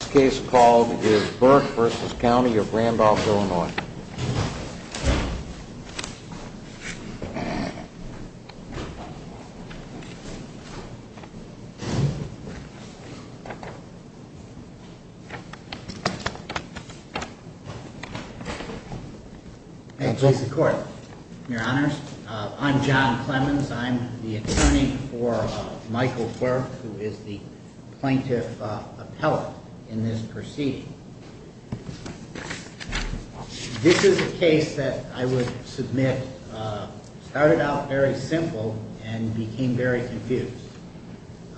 This case is called Burke v. County of Randolph, Illinois. I'm the attorney for Michael Burke, who is the plaintiff appellate in this proceeding. This is a case that I would submit started out very simple and became very confused.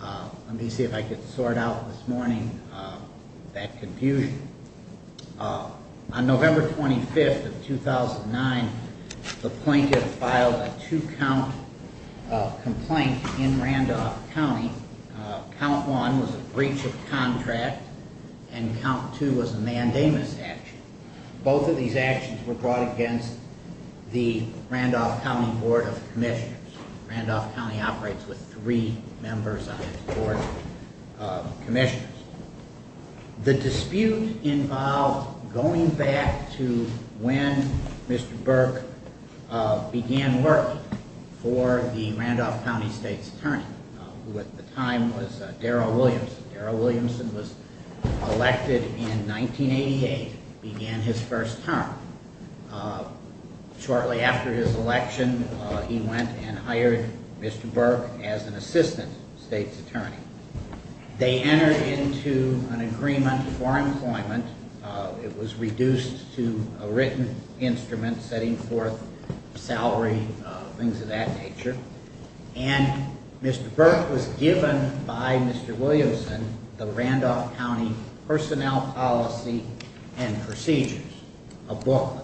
Let me see if I can sort out this morning that confusion. On November 25, 2009, the plaintiff filed a two-count complaint in Randolph County. Count one was a breach of contract and count two was a mandamus action. Both of these actions were brought against the Randolph County Board of Commissioners. Randolph County operates with three members on its board of commissioners. The dispute involved going back to when Mr. Burke began working for the Randolph County State's attorney, who at the time was Darryl Williamson. Darryl Williamson was elected in 1988, began his first term. Shortly after his election, he went and hired Mr. Burke as an assistant state's attorney. They entered into an agreement for employment. It was reduced to a written instrument, setting forth salary, things of that nature. And Mr. Burke was given by Mr. Williamson the Randolph County personnel policy and procedures, a booklet,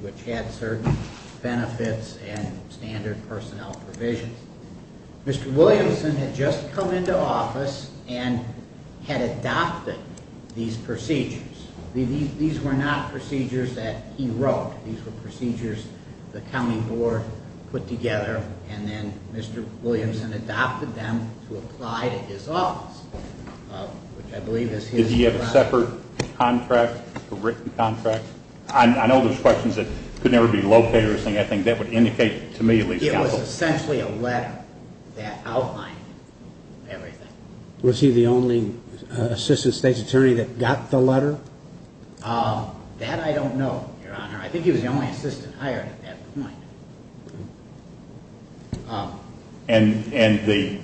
which had certain benefits and standard personnel provisions. Mr. Williamson had just come into office and had adopted these procedures. These were not procedures that he wrote. These were procedures the county board put together, and then Mr. Williamson adopted them to apply to his office, which I believe is his letter. Did he have a separate contract, a written contract? I know there's questions that could never be located or anything. I think that would indicate to me, at least, counsel. That was essentially a letter that outlined everything. Was he the only assistant state's attorney that got the letter? That I don't know, your honor. I think he was the only assistant hired at that point. And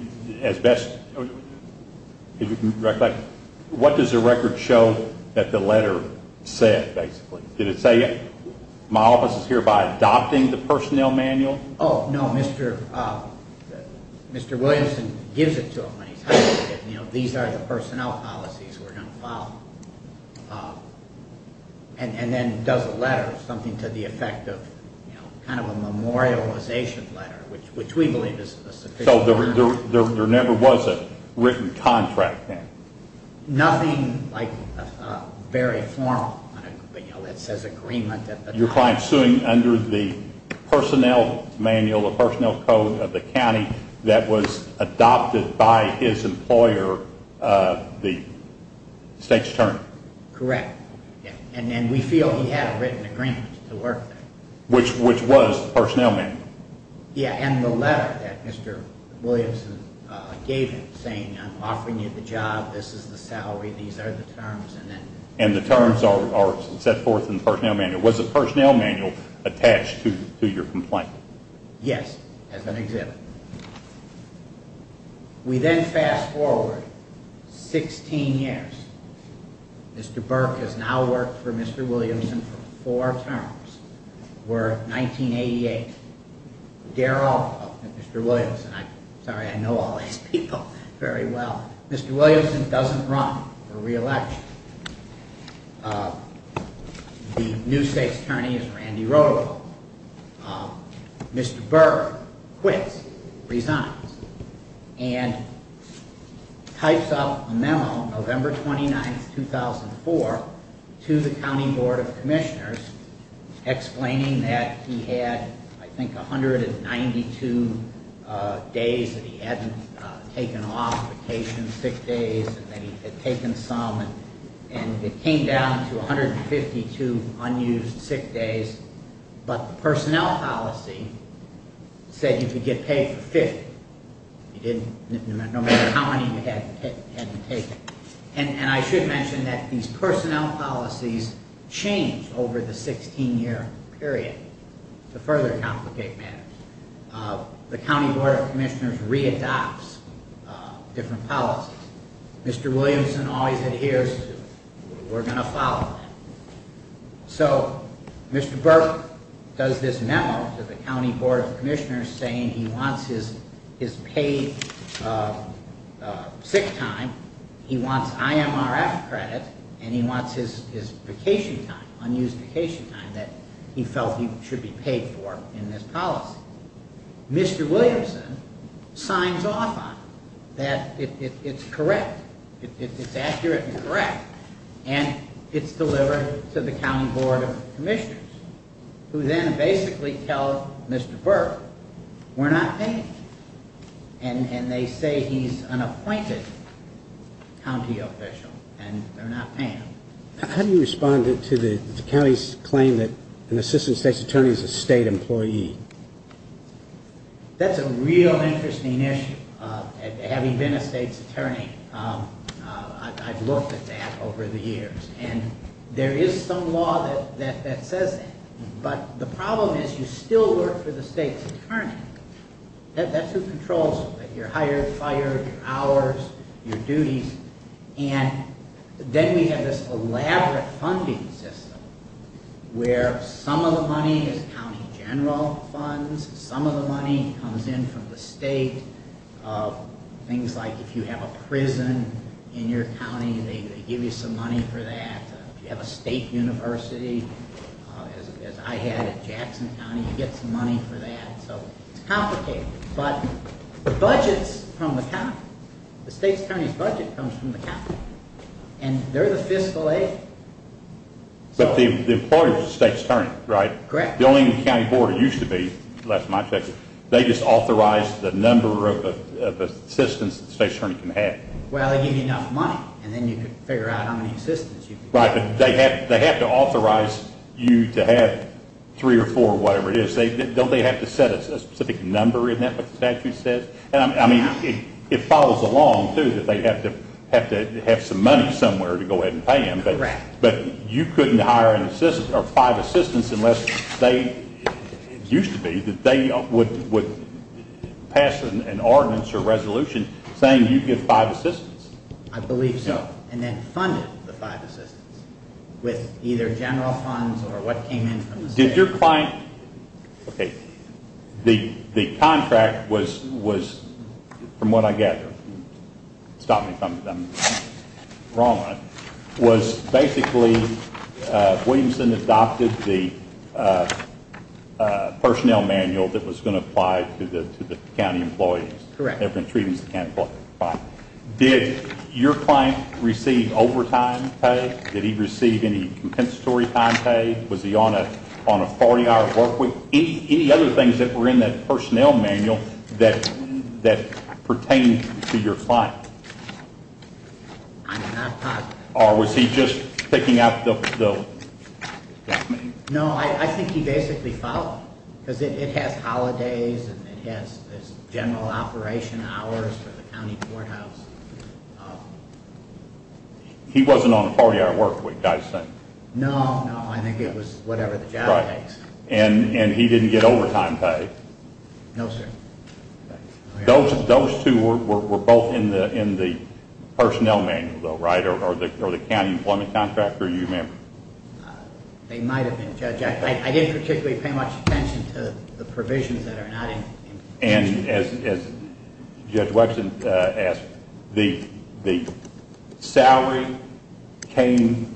what does the record show that the letter said, basically? Did it say, my office is hereby adopting the personnel manual? Oh, no. Mr. Williamson gives it to him when he's hired. These are the personnel policies we're going to follow. And then does a letter, something to the effect of kind of a memorialization letter, which we believe is sufficient. So there never was a written contract then? Nothing very formal that says agreement. Your client's suing under the personnel manual, the personnel code of the county that was adopted by his employer, the state's attorney. Correct. And then we feel he had a written agreement to work there. Which was the personnel manual. Yeah, and the letter that Mr. Williamson gave him, saying I'm offering you the job, this is the salary, these are the terms. And the terms are set forth in the personnel manual. Was the personnel manual attached to your complaint? Yes, as an exhibit. We then fast forward 16 years. Mr. Burke has now worked for Mr. Williamson for four terms. We're at 1988. Darrell, Mr. Williamson, I'm sorry, I know all these people very well. Mr. Williamson doesn't run for re-election. The new state's attorney is Randy Rodolfo. Mr. Burke quits, resigns. And types up a memo, November 29, 2004, to the county board of commissioners, explaining that he had, I think, 192 days that he hadn't taken off vacation, sick days. And that he had taken some, and it came down to 152 unused sick days. But the personnel policy said you could get paid for 50. You didn't, no matter how many you had to take. And I should mention that these personnel policies changed over the 16-year period to further complicate matters. The county board of commissioners re-adopts different policies. Mr. Williamson always adheres to, we're going to follow that. So, Mr. Burke does this memo to the county board of commissioners saying he wants his paid sick time. He wants IMRF credit. And he wants his vacation time, unused vacation time that he felt he should be paid for in this policy. Mr. Williamson signs off on it. That it's correct. It's accurate and correct. And it's delivered to the county board of commissioners. Who then basically tell Mr. Burke, we're not paying him. And they say he's an appointed county official. And they're not paying him. How do you respond to the county's claim that an assistant state's attorney is a state employee? That's a real interesting issue. Having been a state's attorney, I've looked at that over the years. And there is some law that says that. But the problem is you still work for the state's attorney. That's who controls your hired, fired, your hours, your duties. And then we have this elaborate funding system where some of the money is county general funds. Some of the money comes in from the state. Things like if you have a prison in your county, they give you some money for that. If you have a state university, as I had at Jackson County, you get some money for that. So it's complicated. But the budget's from the county. The state's attorney's budget comes from the county. And they're the fiscal aid. But the employer is the state's attorney, right? Correct. The only county board it used to be, unless I'm not mistaken, they just authorize the number of assistants the state's attorney can have. Well, they give you enough money. And then you can figure out how many assistants you can get. Right. But they have to authorize you to have three or four or whatever it is. Don't they have to set a specific number in that, what the statute says? I mean, it follows along, too, that they have to have some money somewhere to go ahead and pay them. Correct. But you couldn't hire five assistants unless they used to be, that they would pass an ordinance or resolution saying you get five assistants. I believe so. And then funded the five assistants with either general funds or what came in from the state. Did your client, okay, the contract was, from what I gather, stop me if I'm wrong on it, was basically Williamson adopted the personnel manual that was going to apply to the county employees. Correct. They were going to treat them as the county employees. Did your client receive overtime pay? Did he receive any compensatory time pay? Was he on a 40-hour work week? Any other things that were in that personnel manual that pertained to your client? I'm not positive. Or was he just picking out the black manual? No, I think he basically followed them because it has holidays and it has general operation hours for the county courthouse. He wasn't on a 40-hour work week, I assume. No, no, I think it was whatever the job takes. And he didn't get overtime pay. No, sir. Those two were both in the personnel manual, though, right, or the county employment contract, or you remember? They might have been, Judge. I didn't particularly pay much attention to the provisions that are not in the contract. And, as Judge Webson asked, the salary came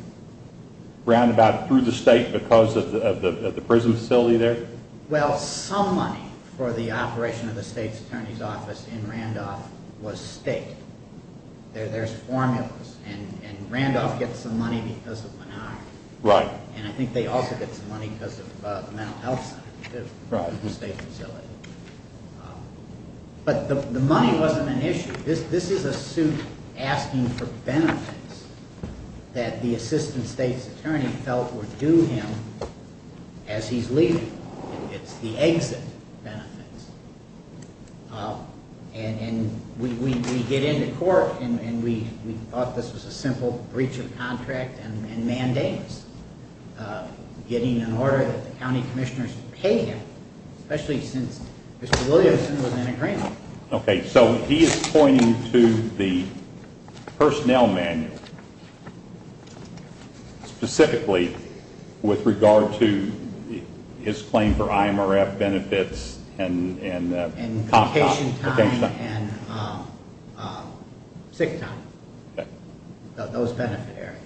roundabout through the state because of the prison facility there? Well, some money for the operation of the state's attorney's office in Randolph was state. There's formulas. And Randolph gets the money because of Menard. Right. And I think they also get some money because of the mental health center, the state facility. But the money wasn't an issue. This is a suit asking for benefits that the assistant state's attorney felt were due him as he's leaving. It's the exit benefits. And we get into court and we thought this was a simple breach of contract and mandates, getting an order that the county commissioners would pay him, especially since Mr. Williamson was in agreement. Okay. So he is pointing to the personnel manual, specifically with regard to his claim for IMRF benefits. And vacation time and sick time, those benefit areas.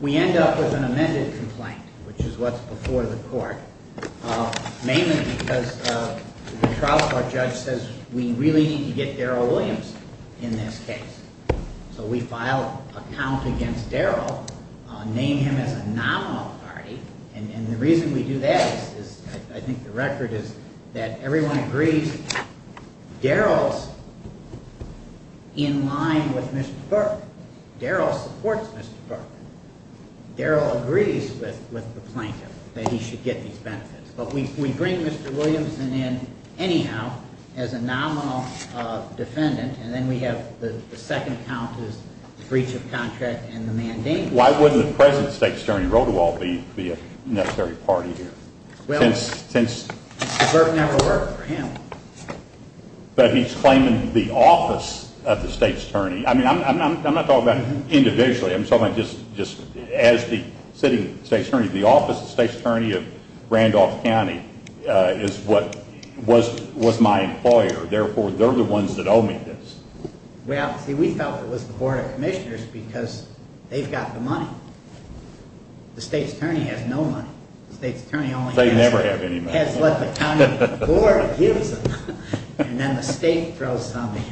We end up with an amended complaint, which is what's before the court, mainly because the trial court judge says we really need to get Darryl Williams in this case. So we file a count against Darryl, name him as a nominal party. And the reason we do that is I think the record is that everyone agrees Darryl's in line with Mr. Burke. Darryl supports Mr. Burke. Darryl agrees with the plaintiff that he should get these benefits. But we bring Mr. Williamson in anyhow as a nominal defendant, and then we have the second count is the breach of contract and the mandate. Why wouldn't the present state's attorney, Rodewald, be a necessary party here? Well, Mr. Burke never worked for him. But he's claiming the office of the state's attorney. I mean, I'm not talking about individually. I'm talking just as the sitting state's attorney. The office of the state's attorney of Randolph County is what was my employer. Therefore, they're the ones that owe me this. Well, see, we felt it was the Board of Commissioners because they've got the money. The state's attorney has no money. The state's attorney only has what the county board gives them. And then the state throws some in.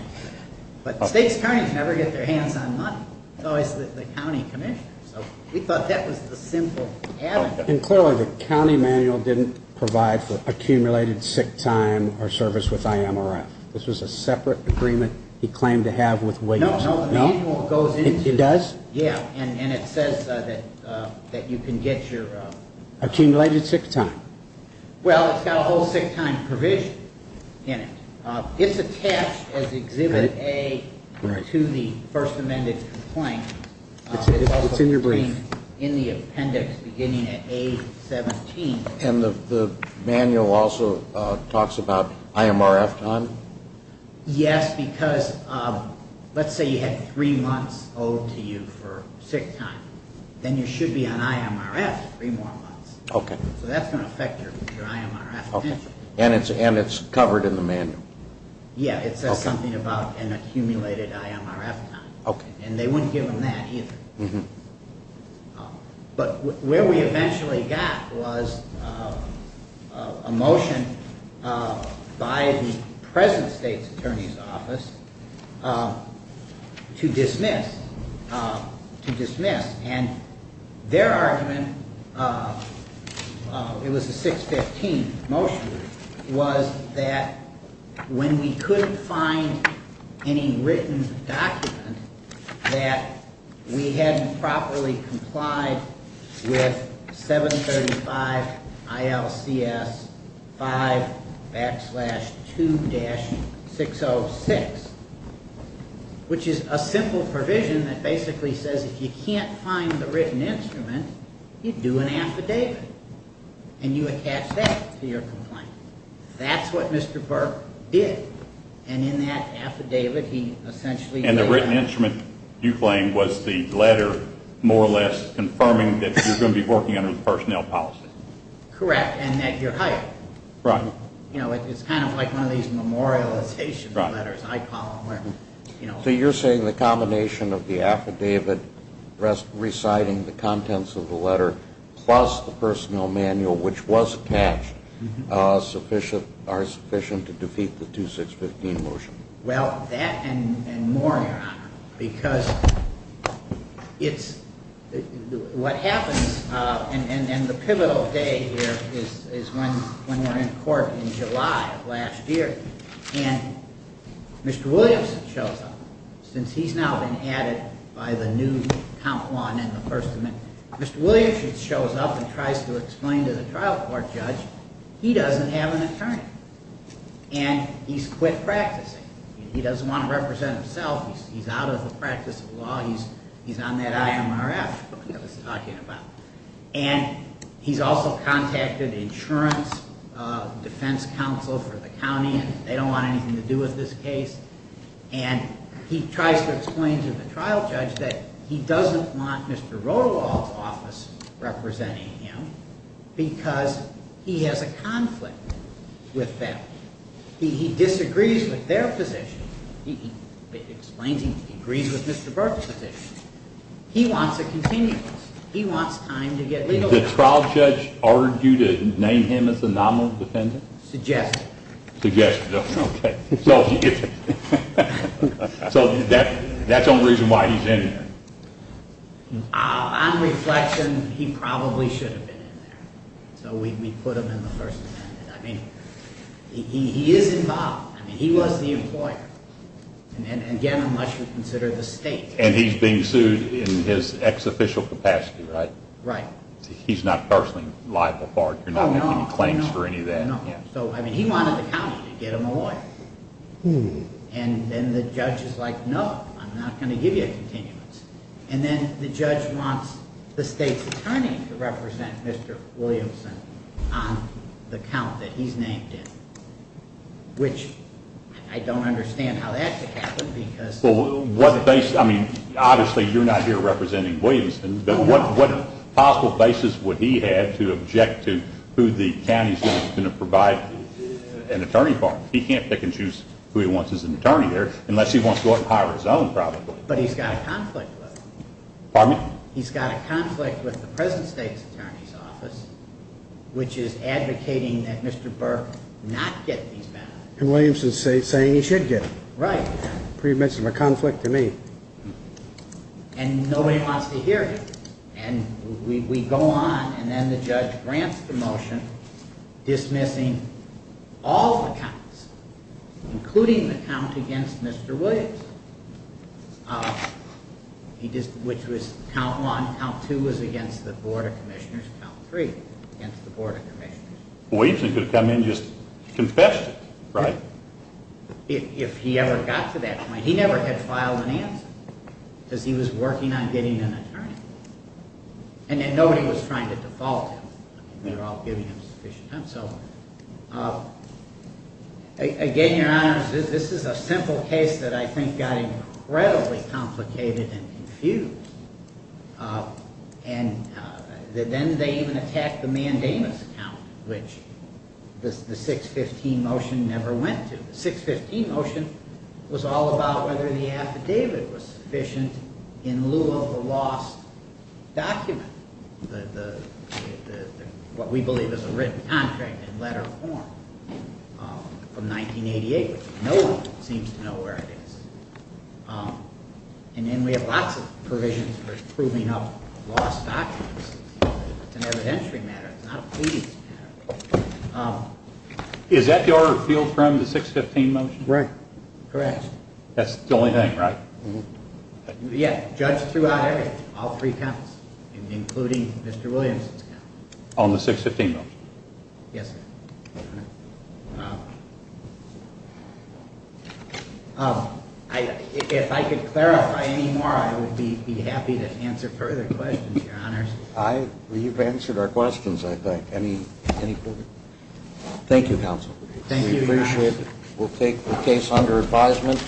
But state's attorneys never get their hands on money. It's always the county commissioners. So we thought that was the simple avenue. And clearly the county manual didn't provide for accumulated sick time or service with IMRF. This was a separate agreement he claimed to have with Williams. No, no, no. The manual goes into it. It does? Yeah. And it says that you can get your- Accumulated sick time. Well, it's got a whole sick time provision in it. It's attached as Exhibit A to the first amended complaint. It's in your brief. In the appendix beginning at A17. And the manual also talks about IMRF time? Yes, because let's say you had three months owed to you for sick time. Then you should be on IMRF three more months. Okay. So that's going to affect your IMRF pension. And it's covered in the manual? Yeah. It says something about an accumulated IMRF time. Okay. And they wouldn't give them that either. But where we eventually got was a motion by the present state's attorney's office to dismiss. And their argument, it was a 615 motion, was that when we couldn't find any written document that we hadn't properly complied with 735 ILCS 5 backslash 2-606, which is a simple provision that basically says if you can't find the written instrument, you do an affidavit. And you attach that to your complaint. That's what Mr. Burke did. And in that affidavit, he essentially did that. And the written instrument, you claim, was the letter more or less confirming that you're going to be working under the personnel policy? Correct. And that you're hired. Right. It's kind of like one of these memorialization letters, I call them. So you're saying the combination of the affidavit reciting the contents of the letter plus the personnel manual, which was attached, are sufficient to defeat the 2615 motion? Well, that and more, Your Honor. Because what happens, and the pivotal day here is when we're in court in July of last year. And Mr. Williamson shows up. Since he's now been added by the new Comp 1 and the First Amendment. Mr. Williamson shows up and tries to explain to the trial court judge he doesn't have an attorney. And he's quit practicing. He doesn't want to represent himself. He's out of the practice of law. He's on that IMRF that I was talking about. And he's also contacted insurance defense counsel for the county. And they don't want anything to do with this case. And he tries to explain to the trial judge that he doesn't want Mr. Rotowall's office representing him because he has a conflict with them. He disagrees with their position. He explains he agrees with Mr. Burke's position. He wants a continuous. He wants time to get legal. Did the trial judge argue to name him as the nominal defendant? Suggested. Suggested. Okay. So that's the only reason why he's in there. On reflection, he probably should have been in there. So we put him in the First Amendment. I mean, he is involved. I mean, he was the employer. And, again, unless you consider the state. And he's being sued in his ex-official capacity, right? Right. He's not personally liable for it. You're not making any claims for any of that. No, no. So, I mean, he wanted the county to get him a lawyer. And then the judge is like, no, I'm not going to give you a continuous. And then the judge wants the state's attorney to represent Mr. Williamson on the count that he's named in. Which I don't understand how that could happen. Well, what basis? I mean, obviously you're not here representing Williamson. But what possible basis would he have to object to who the county is going to provide an attorney for? He can't pick and choose who he wants as an attorney there unless he wants to go out and hire his own probably. But he's got a conflict with him. Pardon me? He's got a conflict with the present state's attorney's office, which is advocating that Mr. Burke not get these benefits. And Williamson's saying he should get them. Right. Pretty much a conflict to me. And nobody wants to hear him. And we go on. And then the judge grants the motion dismissing all the counts, including the count against Mr. Williams, which was count one. Count two was against the board of commissioners. Count three, against the board of commissioners. Williamson could have come in and just confessed it, right? If he ever got to that point. But he never had filed an answer because he was working on getting an attorney. And then nobody was trying to default him. They were all giving him sufficient time. So again, Your Honors, this is a simple case that I think got incredibly complicated and confused. And then they even attacked the mandamus count, which the 615 motion never went to. The 615 motion was all about whether the affidavit was sufficient in lieu of the lost document. What we believe is a written contract in letter form from 1988. No one seems to know where it is. And then we have lots of provisions for proving up lost documents. It's an evidentiary matter. It's not a pleading matter. Is that your field from the 615 motion? Right. Correct. That's the only thing, right? Yeah, judged throughout everything, all three counts, including Mr. Williamson's count. On the 615 motion? Yes, sir. If I could clarify any more, I would be happy to answer further questions, Your Honors. We've answered our questions, I think. Any further? Thank you, Counsel. Thank you, Your Honors. We appreciate it. We'll take the case under advisement.